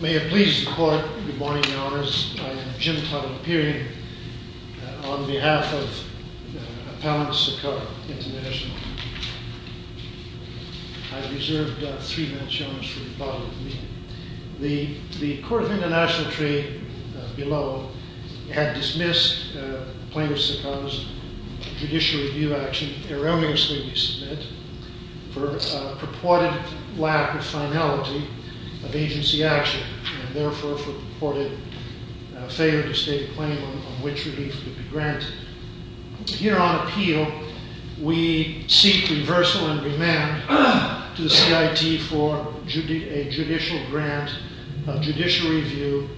May it please the Court, good morning, Your Honours. I am Jim Tadalopirian on behalf of Appellant Sarkar, International. I have reserved three minutes, Your Honours, for you to follow with me. The Court of International Trade below had dismissed Plaintiff Sarkar's judicial review action erroneously to submit for purported lack of finality of agency action and therefore for purported failure to state a claim on which relief could be granted. Here on appeal, we seek reversal and remand to the CIT for a judicial grant, a judicial review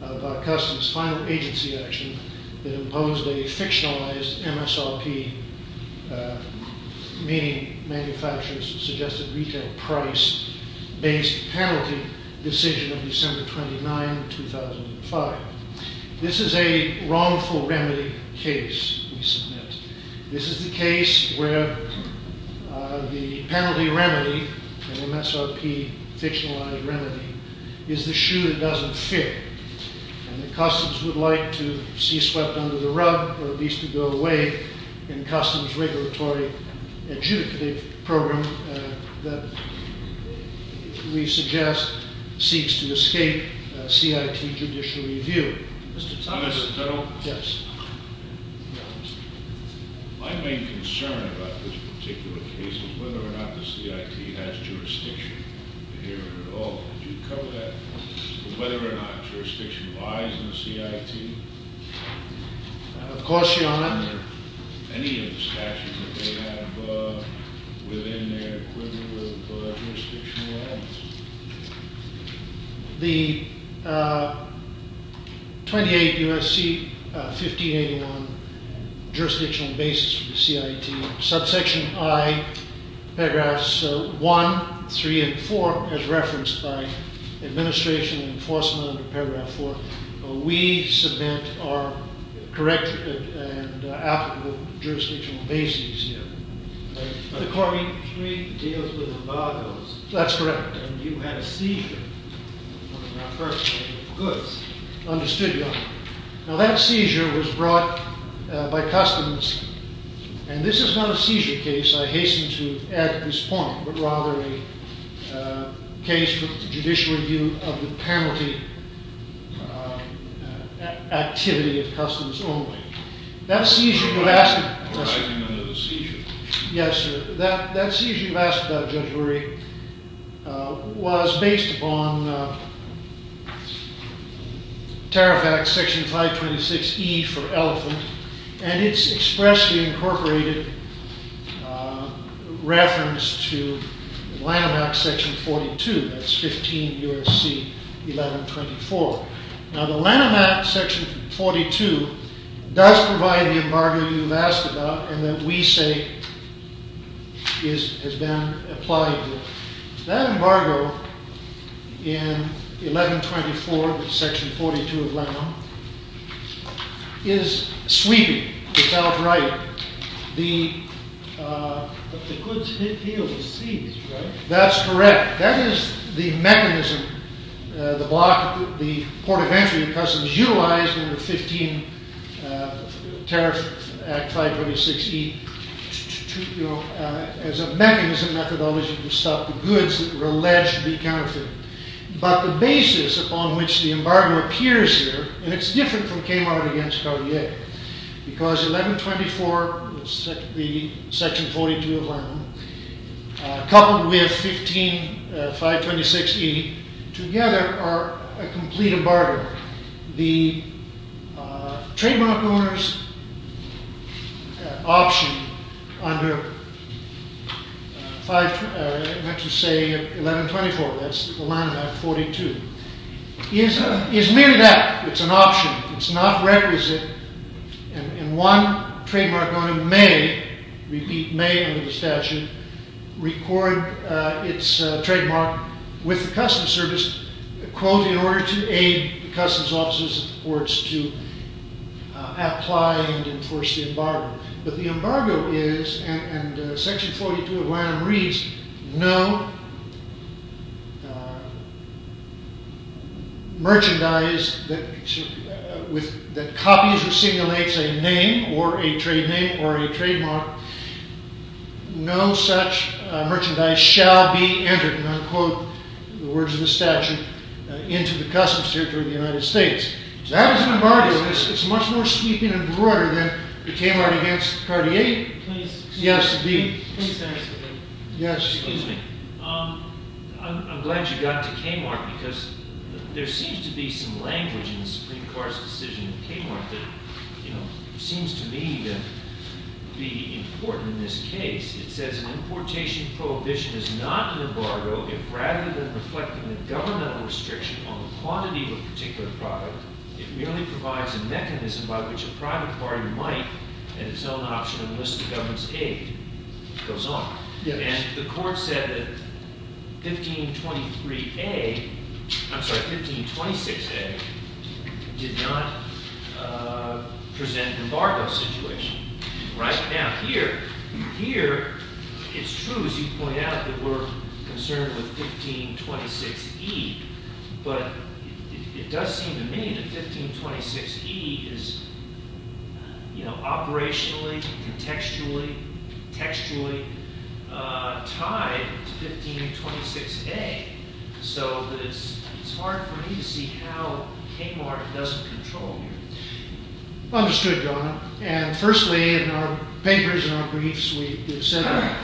of our customs, final agency action that imposed a fictionalized MSRP, meaning manufacturers suggested retail price-based penalty decision of December 29, 2005. This is a wrongful remedy case, we submit. This is the case where the penalty remedy, MSRP, fictionalized remedy, is the shoe that doesn't fit. And the customs would like to see swept under the rug or at least to go away in customs regulatory adjudicative program that we suggest seeks to escape CIT judicial review. Mr. Thomas. Mr. Tuttle. Yes. My main concern about this particular case is whether or not the CIT has jurisdiction here at all. Could you cover that for me, whether or not jurisdiction lies in the CIT? Of course, Your Honour. Any of the statutes that they have within their equivalent of jurisdictional limits? The 28 U.S.C. 1581 jurisdictional basis for the CIT, subsection I, paragraphs 1, 3, and 4, as referenced by administration and enforcement under paragraph 4, we submit our correct and applicable jurisdictional basis here. The Corbyn Treaty deals with embargoes. That's correct. And you had a seizure on one of our personal goods. Understood, Your Honour. Now that seizure was brought by customs, and this is not a seizure case, I hasten to add to this point, but rather a case for judicial review of the penalty activity of customs only. That seizure you asked about, Judge Lurie, was based upon Tarifact section 526E for elephant, and it's expressly incorporated reference to Lanham Act section 42, that's 15 U.S.C. 1124. Now the Lanham Act section 42 does provide the embargo you've asked about, and that we say has been applied to it. That embargo in 1124, section 42 of Lanham, is sweeping. It's outright. But the goods here were seized, right? That's correct. That is the mechanism, the block, the port of entry of customs utilized in the 15 Tarifact 526E as a mechanism methodology to stop the goods that were alleged to be counterfeit. But the basis upon which the embargo appears here, and it's different from Kmart against Cartier, because 1124, the section 42 of Lanham, coupled with 15 526E together are a complete embargo. However, the trademark owner's option under 1124, that's the Lanham Act 42, is merely that. It's an option. It's not requisite. And one trademark owner may, repeat may under the statute, record its trademark with the customs service, quote, in order to aid the customs officers and the courts to apply and enforce the embargo. But the embargo is, and section 42 of Lanham reads, no merchandise that copies or simulates a name or a trade name or a trademark, no such merchandise shall be entered, and I'll quote the words of the statute, into the customs territory of the United States. That is an embargo. It's much more sweeping and broader than the Kmart against Cartier. Yes, the dean. Yes. Excuse me. I'm glad you got to Kmart because there seems to be some language in the Supreme Court's decision in Kmart that seems to me to be important in this case. It says, an importation prohibition is not an embargo if, rather than reflecting the governmental restriction on the quantity of a particular product, it merely provides a mechanism by which a private party might, at its own option, enlist the government's aid. It goes on. And the court said that 1523A, I'm sorry, 1526A did not present an embargo situation. Right down here. Here, it's true, as you point out, that we're concerned with 1526E. But it does seem to me that 1526E is, you know, operationally, contextually, textually tied to 1526A. So it's hard for me to see how Kmart doesn't control here. Understood, Your Honor. And firstly, in our papers and our briefs, we have said that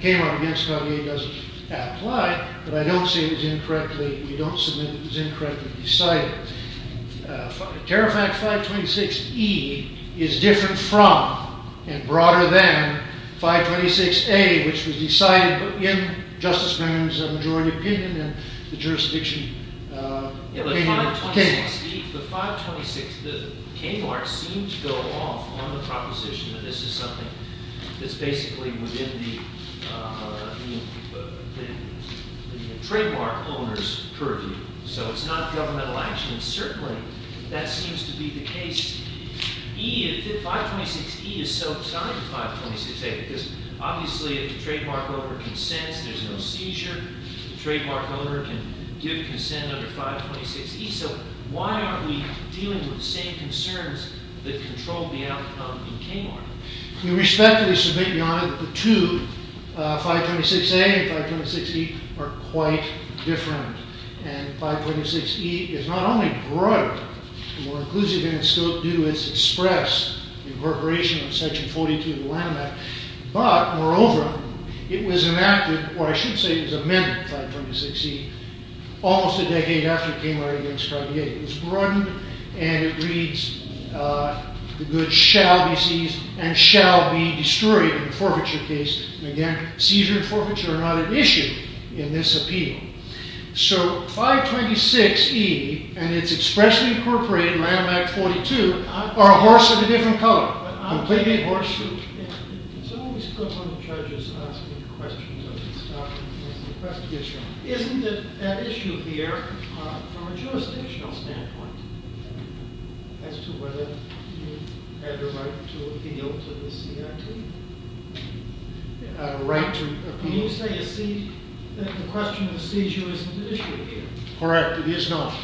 Kmart against Cartier doesn't apply. But I don't say it was incorrectly, we don't submit that it was incorrectly decided. As a matter of fact, 1526E is different from and broader than 1526A, which was decided in Justice Moon's majority opinion and the jurisdiction opinion of Kmart. But 1526E, the Kmart seems to go off on the proposition that this is something that's basically within the trademark owner's purview. So it's not governmental action. And certainly, that seems to be the case. 1526E is so tied to 1526A because, obviously, if the trademark owner consents, there's no seizure. The trademark owner can give consent under 1526E. So why aren't we dealing with the same concerns that control the outcome in Kmart? With respect to this, Your Honor, the two, 1526A and 1526E, are quite different. And 1526E is not only broader, more inclusive, and still due to its express incorporation of Section 42 of the Land Act. But, moreover, it was enacted, or I should say it was amended, 1526E, almost a decade after Kmart against 58. It was broadened, and it reads, the goods shall be seized and shall be destroyed in forfeiture cases. And again, seizure and forfeiture are not an issue in this appeal. So 1526E and its expressly incorporated Land Act 42 are a horse of a different color. Completely horseshoe. It's always good when the judge is asking questions of his documents. Isn't that issue here, from a jurisdictional standpoint, as to whether you have a right to appeal to the CIT? A right to appeal? Can you say that the question of seizure isn't an issue here? Correct, it is not.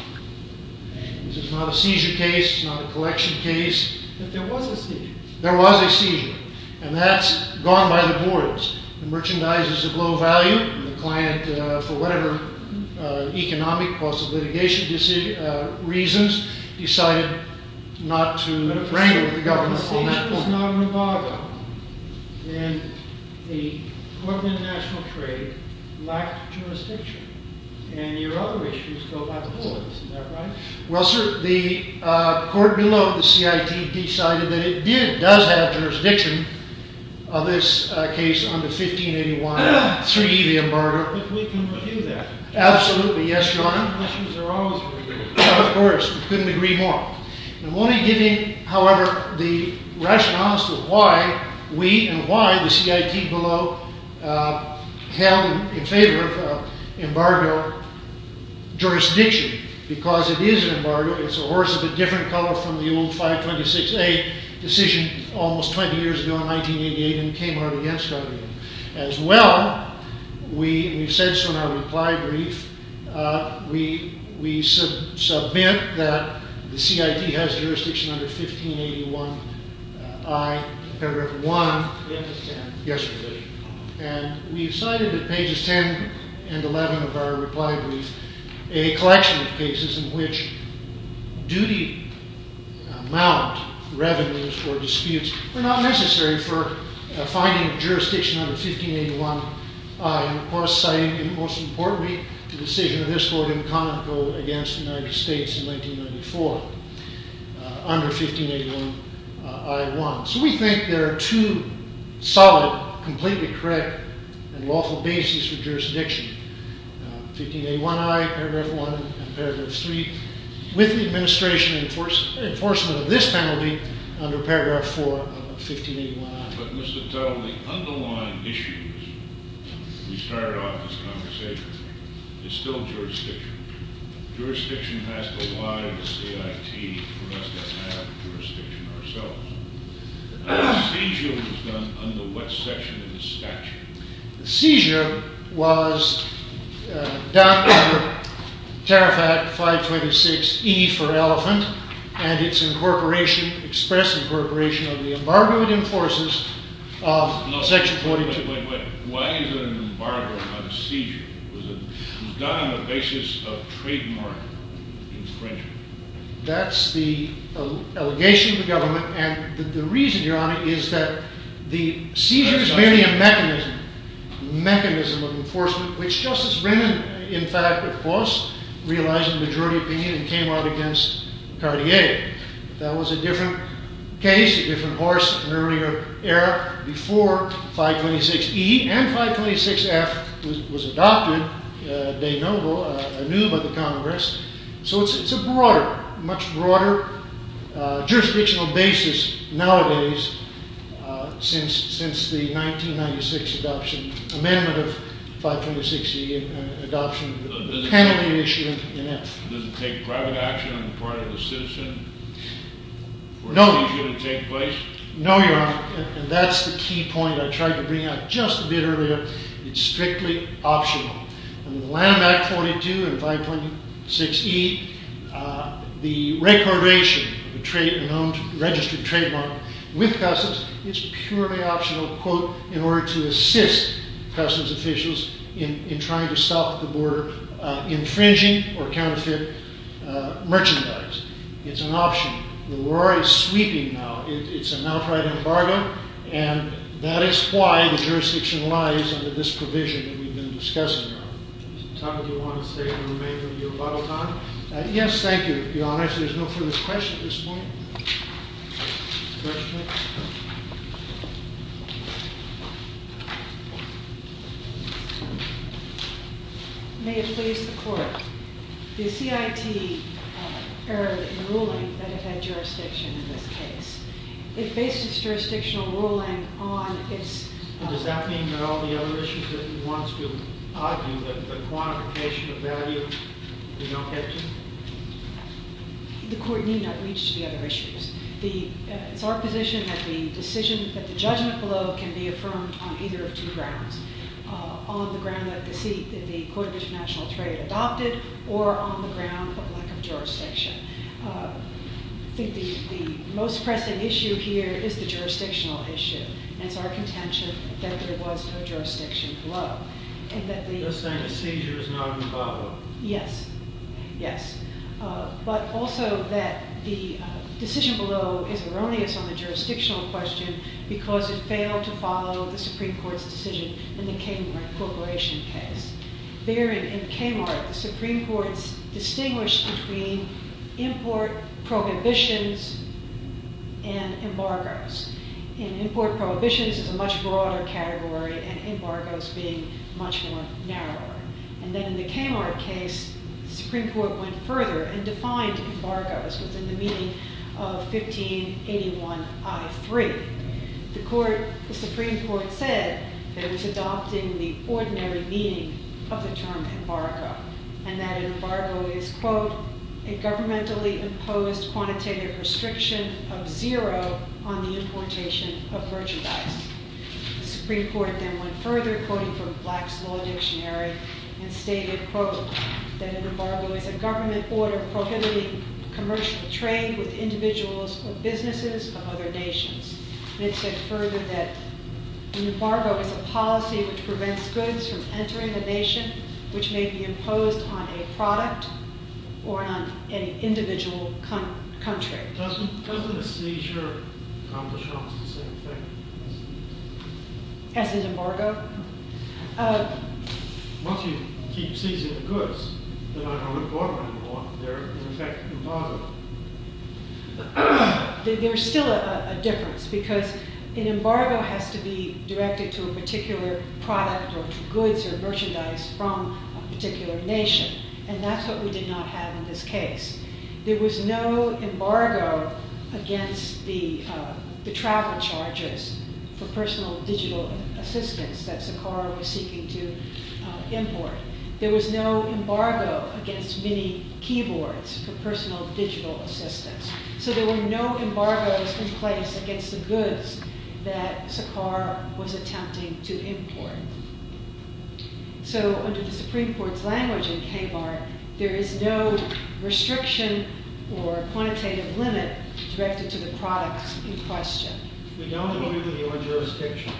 This is not a seizure case, it's not a collection case. But there was a seizure. There was a seizure. And that's gone by the boards. The merchandise is of low value, and the client, for whatever economic cause of litigation reasons, decided not to bring it to the government on that point. But a seizure is not an embargo. And the Court of International Trade lacked jurisdiction. And your other issues go by the boards, is that right? Well, sir, the court below the CIT decided that it did, does have jurisdiction on this case under 1581, 3E, the embargo. But we can review that. Absolutely, yes, your honor. Questions are always reviewed. Of course, we couldn't agree more. I'm only giving, however, the rationale as to why we and why the CIT below held in favor of embargo jurisdiction. Because it is an embargo. It's a horse of a different color from the old 526A decision almost 20 years ago in 1988, and came out against it. As well, we said so in our reply brief. We submit that the CIT has jurisdiction under 1581I, paragraph 1. Yesterday. And we decided that pages 10 and 11 of our reply brief, a collection of cases in which duty amount, revenues, or disputes were not necessary for finding jurisdiction under 1581I. And of course, citing, most importantly, the decision of this court in Conoco against the United States in 1994, under 1581I1. So we think there are two solid, completely correct, and lawful bases for jurisdiction. 1581I, paragraph 1, and paragraph 3, with the administration enforcement of this penalty under paragraph 4 of 1581I. But, Mr. Tull, the underlying issue, we started off this conversation, is still jurisdiction. Jurisdiction has to lie with CIT for us to have jurisdiction ourselves. Seizure was done under what section of the statute? Seizure was done under Tarifat 526E for Elephant, and its incorporation, express incorporation of the embargo it enforces of section 42. Wait, wait, wait. Why is there an embargo on seizure? It was done on the basis of trademark infringement. That's the allegation of the government. And the reason, Your Honor, is that the seizure is merely a mechanism, mechanism of enforcement, which Justice Brennan, in fact, of course, realized a majority opinion and came out against Cartier. That was a different case, a different horse, an earlier era, before 526E and 526F was adopted, de novo, anew by the Congress. So it's a broader, much broader jurisdictional basis nowadays since the 1996 adoption, amendment of 526E and adoption of the penalty issue in Elephant. Does it take private action on the part of the citizen? No. Or is it easier to take place? No, Your Honor, and that's the key point I tried to bring out just a bit earlier. It's strictly optional. Under the Land Act 42 and 526E, the recordation of a registered trademark with customs is purely optional, quote, in order to assist customs officials in trying to stop the border infringing or counterfeit merchandise. It's an option. The war is sweeping now. It's an outright embargo, and that is why the jurisdiction lies under this provision that we've been discussing now. Is there a topic you want to state and remain with you about all time? Yes, thank you, Your Honor. If there's no further questions at this point. Questions? May it please the Court. The CIT erred in ruling that it had jurisdiction in this case. It based its jurisdictional ruling on its- Does that mean that all the other issues that it wants to argue, that the quantification of value, we don't have to? The Court need not reach to the other issues. It's our position that the decision, that the judgment below can be affirmed on either of two grounds. On the ground that the Court of International Trade adopted, or on the ground of lack of jurisdiction. I think the most pressing issue here is the jurisdictional issue. And it's our contention that there was no jurisdiction below. You're saying the seizure is not in the file? Yes. Yes. But also that the decision below is erroneous on the jurisdictional question because it failed to follow the Supreme Court's decision in the Kmart corporation case. There in Kmart, the Supreme Court's distinguished between import prohibitions and embargoes. In import prohibitions is a much broader category and embargoes being much more narrower. And then in the Kmart case, the Supreme Court went further and defined embargoes within the meaning of 1581I3. The Supreme Court said that it was adopting the ordinary meaning of the term embargo. And that embargo is, quote, a governmentally imposed quantitative restriction of zero on the importation of merchandise. The Supreme Court then went further, quoting from Black's Law Dictionary, and stated, quote, that an embargo is a government order prohibiting commercial trade with individuals or businesses of other nations. And it said further that an embargo is a policy which prevents goods from entering the nation which may be imposed on a product or on an individual country. Doesn't a seizure accomplish almost the same thing as an embargo? Once you keep seizing the goods, then I don't import them anymore. They're, in effect, embargoed. There's still a difference because an embargo has to be directed to a particular product or goods or merchandise from a particular nation. And that's what we did not have in this case. There was no embargo against the travel charges for personal digital assistance that Saqqara was seeking to import. There was no embargo against many keyboards for personal digital assistance. So there were no embargoes in place against the goods that Saqqara was attempting to import. So under the Supreme Court's language in KBAR, there is no restriction or quantitative limit directed to the products in question. We don't agree with your jurisdiction.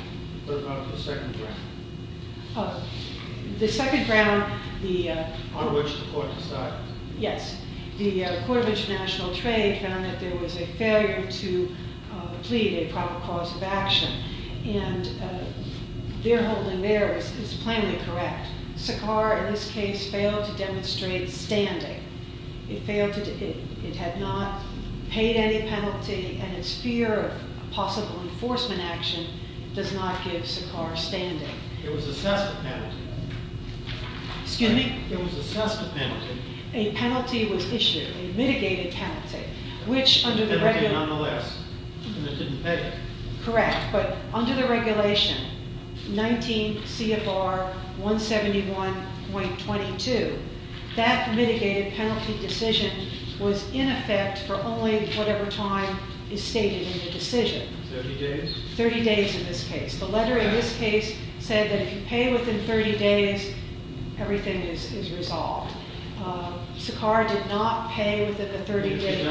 What about the second round? The second round, the- On which the court decided. Yes. The Court of International Trade found that there was a failure to plead a proper cause of action. And their holding there is plainly correct. Saqqara, in this case, failed to demonstrate standing. It had not paid any penalty, and its fear of possible enforcement action does not give Saqqara standing. It was assessed a penalty. Excuse me? It was assessed a penalty. A penalty was issued, a mitigated penalty, which under the- A penalty nonetheless, and it didn't pay. Correct. But under the regulation, 19 CFR 171.22, that mitigated penalty decision was in effect for only whatever time is stated in the decision. 30 days? 30 days in this case. The letter in this case said that if you pay within 30 days, everything is resolved. Saqqara did not pay within the 30 days.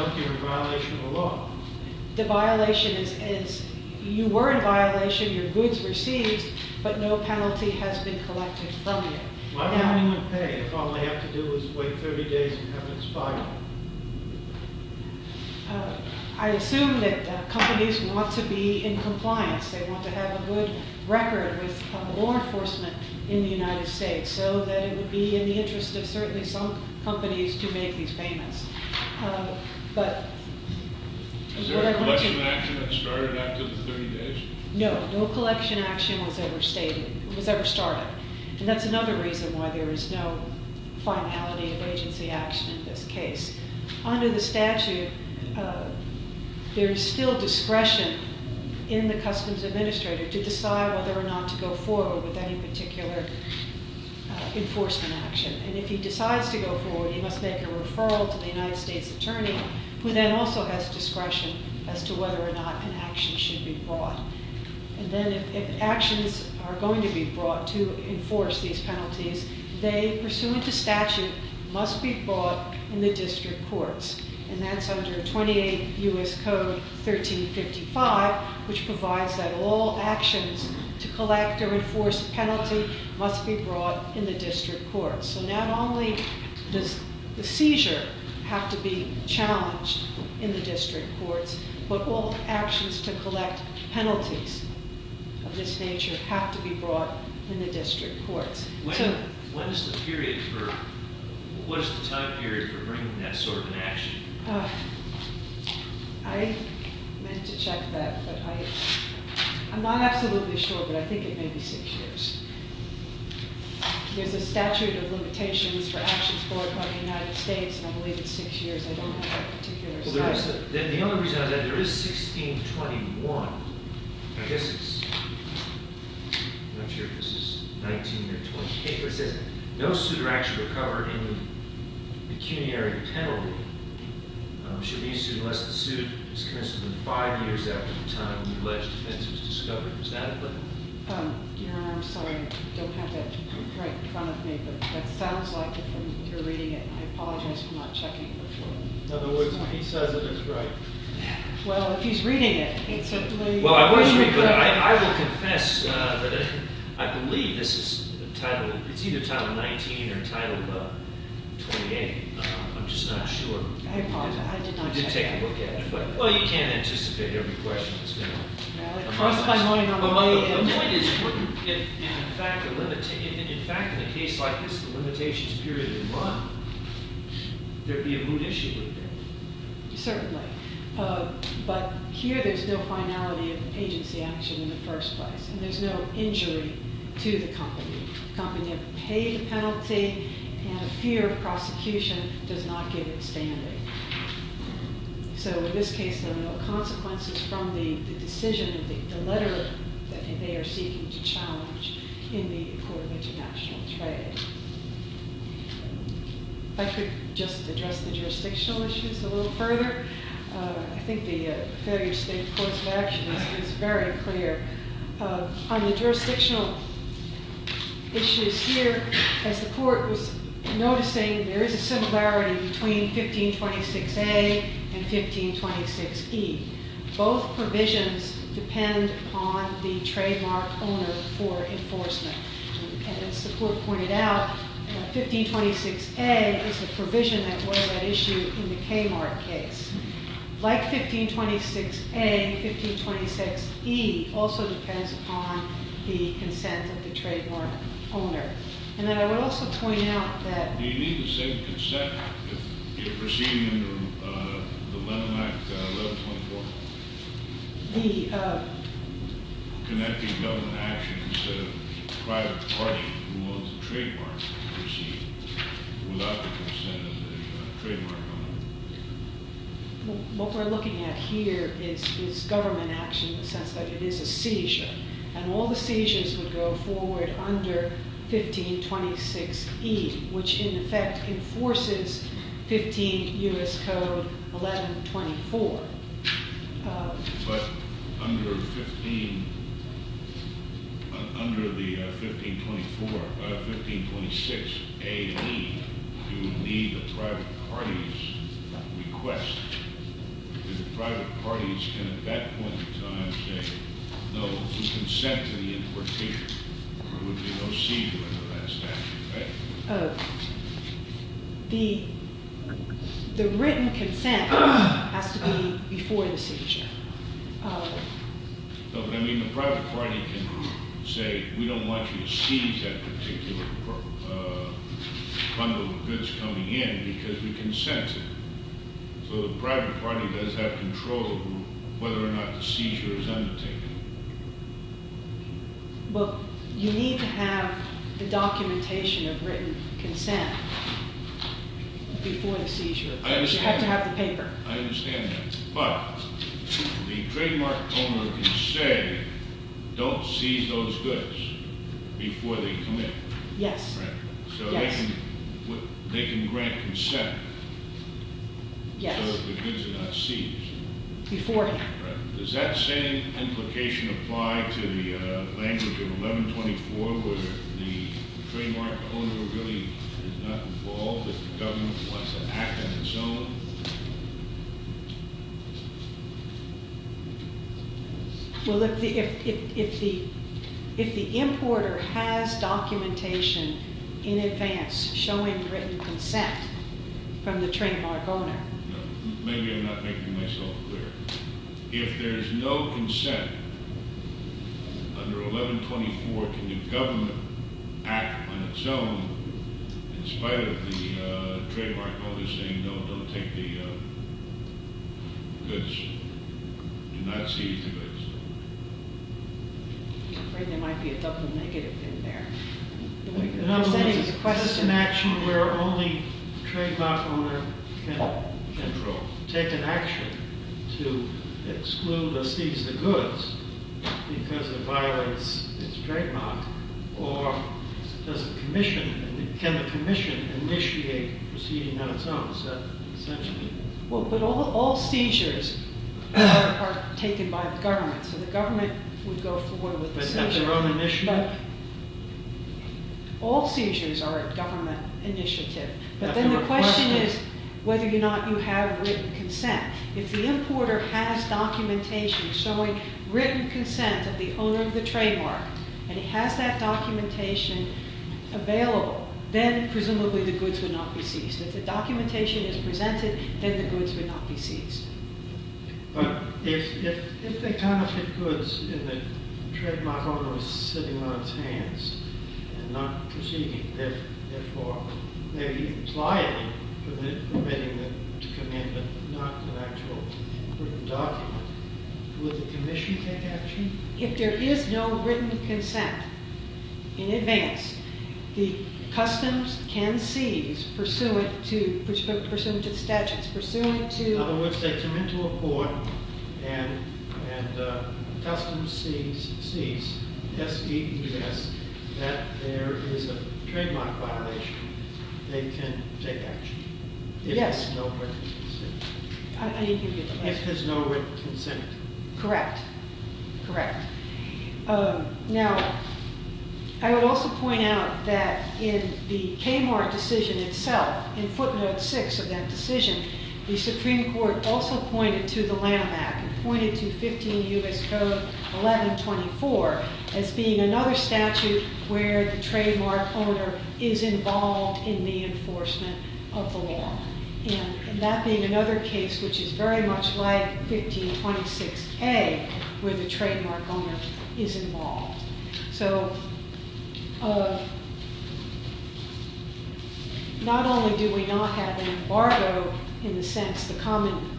The violation is, you were in violation, your goods were seized, but no penalty has been collected from you. Why would anyone pay if all I have to do is wait 30 days and have it expired? I assume that companies want to be in compliance. They want to have a good record with law enforcement in the United States, so that it would be in the interest of certainly some companies to make these payments. But- Is there a collection action that started after the 30 days? No. No collection action was ever stated, was ever started. And that's another reason why there is no finality of agency action in this case. Under the statute, there is still discretion in the customs administrator to decide whether or not to go forward with any particular enforcement action. And if he decides to go forward, he must make a referral to the United States Attorney, who then also has discretion as to whether or not an action should be brought. And then if actions are going to be brought to enforce these penalties, they, pursuant to statute, must be brought in the district courts. And that's under 28 U.S. Code 1355, which provides that all actions to collect or enforce penalty must be brought in the district courts. So not only does the seizure have to be challenged in the district courts, but all actions to collect penalties of this nature have to be brought in the district courts. When is the period for, what is the time period for bringing that sort of an action? I meant to check that, but I, I'm not absolutely sure, but I think it may be six years. There's a statute of limitations for actions brought by the United States, and I believe it's six years. I don't have that particular statute. The only reason I have that, there is 1621. I guess it's, I'm not sure if this is 19 or 20. It says no suitor actually recovered in the pecuniary penalty should be sued unless the suit is commenced within five years after the time of the alleged offense was discovered. Is that it? Your Honor, I'm sorry. I don't have that right in front of me, but that sounds like it from your reading it. I apologize for not checking it before. In other words, he says it is right. Yeah. Well, if he's reading it, it's certainly- Well, I will confess that I believe this is title, it's either title 19 or title 28. I'm just not sure. I apologize. I did not check it. I did take a look at it. Well, you can't anticipate every question that's been asked. Well, the point is, in fact, in a case like this, the limitations period is one. There would be a moot issue with that. Certainly. But here, there's no finality of agency action in the first place, and there's no injury to the company. The company have paid the penalty, and the fear of prosecution does not give it standing. So, in this case, there are no consequences from the decision, the letter that they are seeking to challenge in the Court of International Trade. If I could just address the jurisdictional issues a little further, I think the failure state courts of action is very clear. On the jurisdictional issues here, as the court was noticing, there is a similarity between 1526A and 1526E. Both provisions depend on the trademark owner for enforcement. As the court pointed out, 1526A is the provision that was at issue in the Kmart case. Like 1526A, 1526E also depends on the consent of the trademark owner. And then I would also point out that- Do you need the same consent if you're proceeding under the Lemon Act 11.4? The- What we're looking at here is government action in the sense that it is a seizure. And all the seizures would go forward under 1526E, which in effect enforces 15 U.S. Code 11.24. But under the 1524, 1526A and E, you would need the private party's request. The private parties can at that point in time say no to consent to the importation. There would be no seizure under that statute, right? The written consent has to be before the seizure. No, but I mean the private party can say, we don't want you to seize that particular bundle of goods coming in because we consent to it. So the private party does have control over whether or not the seizure is undertaken. Well, you need to have the documentation of written consent before the seizure. I understand. You have to have the paper. I understand that. But the trademark owner can say, don't seize those goods before they come in. Yes. Right? Yes. So they can grant consent. Yes. So the goods are not seized. Beforehand. Does that same implication apply to the language of 1124, where the trademark owner really is not involved if the government wants to act on its own? Well, if the importer has documentation in advance showing written consent from the trademark owner. Maybe I'm not making myself clear. If there's no consent under 1124, can the government act on its own in spite of the trademark owner saying, no, don't take the goods. Do not seize the goods. I'm afraid there might be a double negative in there. Is this an action where only the trademark owner can take an action to exclude or seize the goods because it violates its trademark? Or can the commission initiate a proceeding on its own? Well, but all seizures are taken by the government. So the government would go forward with the seizure. But that's their own initiative. All seizures are a government initiative. But then the question is whether or not you have written consent. If the importer has documentation showing written consent of the owner of the trademark and he has that documentation available, then presumably the goods would not be seized. If the documentation is presented, then the goods would not be seized. But if they confiscate goods and the trademark owner is sitting on his hands and not proceeding, therefore they're implying permitting them to come in but not an actual written document, would the commission take action? If there is no written consent in advance, the customs can seize pursuant to the statutes, pursuant to In other words, they come into a court and customs sees, s-e-e-s, that there is a trademark violation, they can take action. Yes. If there's no written consent. I didn't hear the question. If there's no written consent. Correct. Correct. Now, I would also point out that in the Kmart decision itself, in footnote 6 of that decision, the Supreme Court also pointed to the Lanham Act, and pointed to 15 U.S. Code 1124 as being another statute where the trademark owner is involved in the enforcement of the law. And that being another case which is very much like 1526A, where the trademark owner is involved. So, not only do we not have an embargo in the sense, the common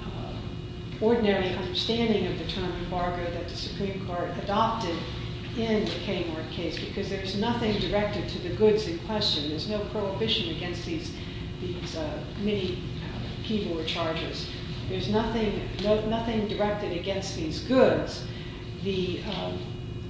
ordinary understanding of the term embargo that the Supreme Court adopted in the Kmart case, because there's nothing directed to the goods in question. There's no prohibition against these mini keyboard chargers. There's nothing directed against these goods. Because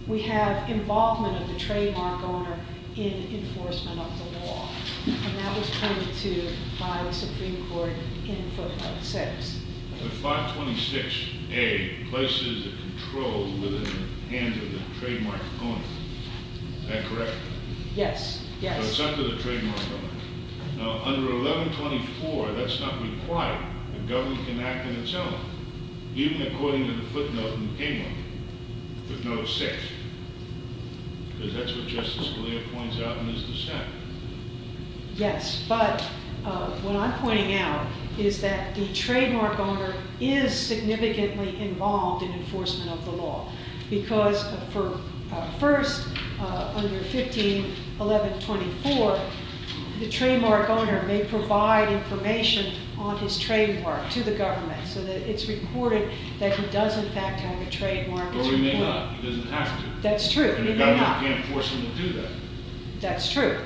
we have involvement of the trademark owner in enforcement of the law. And that was pointed to by the Supreme Court in footnote 6. The 526A places the control within the hands of the trademark owner. Is that correct? Yes. Yes. So it's under the trademark owner. Now, under 1124, that's not required. The government can act on its own. Even according to the footnote in Kmart, footnote 6. Because that's what Justice Scalia points out in his dissent. Yes, but what I'm pointing out is that the trademark owner is significantly involved in enforcement of the law. Because for first, under 151124, the trademark owner may provide information on his trademark to the government so that it's recorded that he does in fact have a trademark. Or he may not. He doesn't have to. That's true. And the government can't force him to do that. That's true.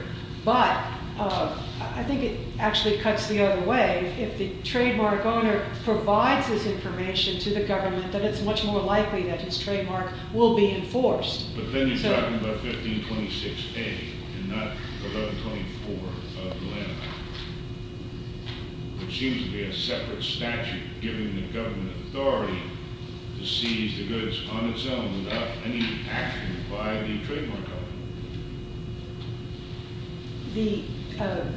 But I think it actually cuts the other way. If the trademark owner provides this information to the government, then it's much more likely that his trademark will be enforced. But then you're talking about 1526A and not 1124 of the landmark. It seems to be a separate statute giving the government authority to seize the goods on its own without any action by the trademark owner.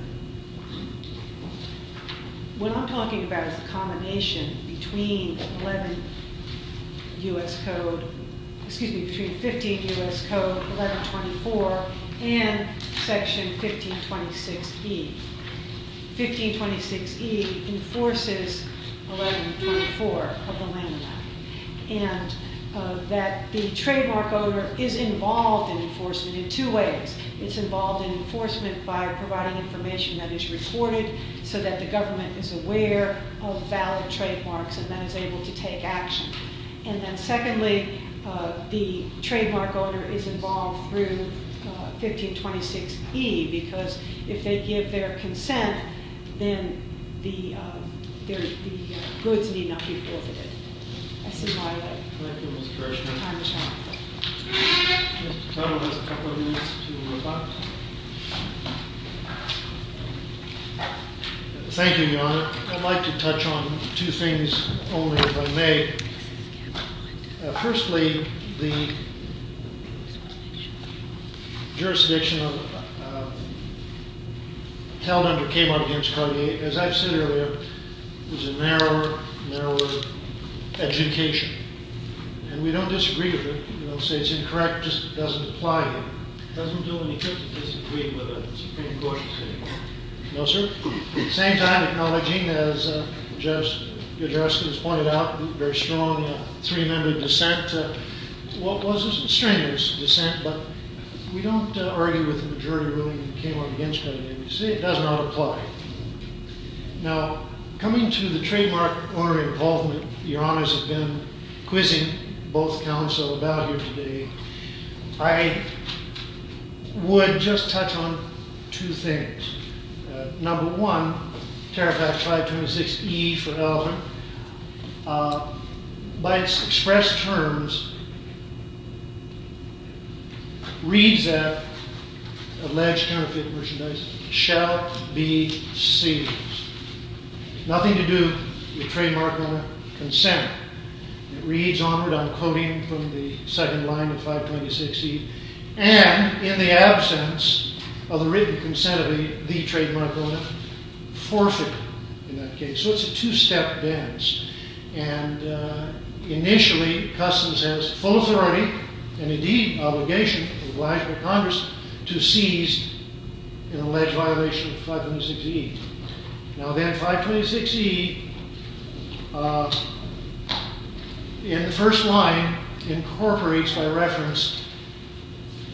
What I'm talking about is the combination between 11 U.S. Code, excuse me, between 15 U.S. Code 1124 and Section 1526E. 1526E enforces 1124 of the landmark. And that the trademark owner is involved in enforcement in two ways. It's involved in enforcement by providing information that is recorded so that the government is aware of valid trademarks and then is able to take action. And then secondly, the trademark owner is involved through 1526E because if they give their consent, then the goods need not be forfeited. That's the bottom line. Thank you, Ms. Gershman. My pleasure. Mr. Tuttle has a couple of minutes to rebut. Thank you, Your Honor. I'd like to touch on two things only if I may. Firstly, the jurisdiction held under Cayman v. Cargill, as I've said earlier, is a narrower, narrower education. And we don't disagree with it. We don't say it's incorrect. It just doesn't apply here. It doesn't do any good to disagree with a Supreme Court decision. No, sir? At the same time, acknowledging, as Judge O'Driscoll has pointed out, the very strong three-member dissent was a strenuous dissent, but we don't argue with the majority ruling that came up against it. We say it does not apply. Now, coming to the trademark owner involvement, Your Honors have been quizzing both counsel about here today. I would just touch on two things. Number one, Tariff Act 526E for Elgin, by its expressed terms, reads that alleged counterfeit merchandise shall be seized. Nothing to do with trademark owner consent. It reads, honored, I'm quoting from the second line of 526E, and in the absence of the written consent of the trademark owner, forfeit, in that case. So it's a two-step dance. And initially, Customs has full authority, and indeed obligation, of the Washington Congress to seize an alleged violation of 526E. Now then, 526E, in the first line, incorporates, by reference,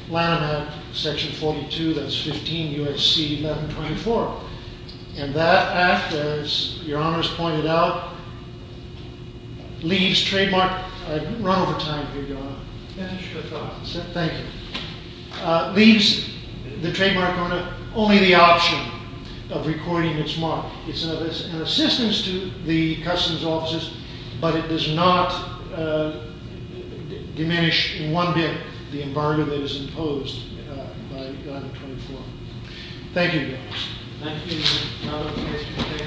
Lanham Act, Section 42, that's 15 U.S.C. 1124. And that act, as Your Honors pointed out, leaves trademark, I've run over time here, Your Honor. Finish your thoughts. Thank you. Leaves the trademark owner only the option of recording its mark. It's an assistance to the Customs offices, but it does not diminish in one bit the embargo that is imposed by 1124. Thank you, Your Honors. Thank you, Your Honor.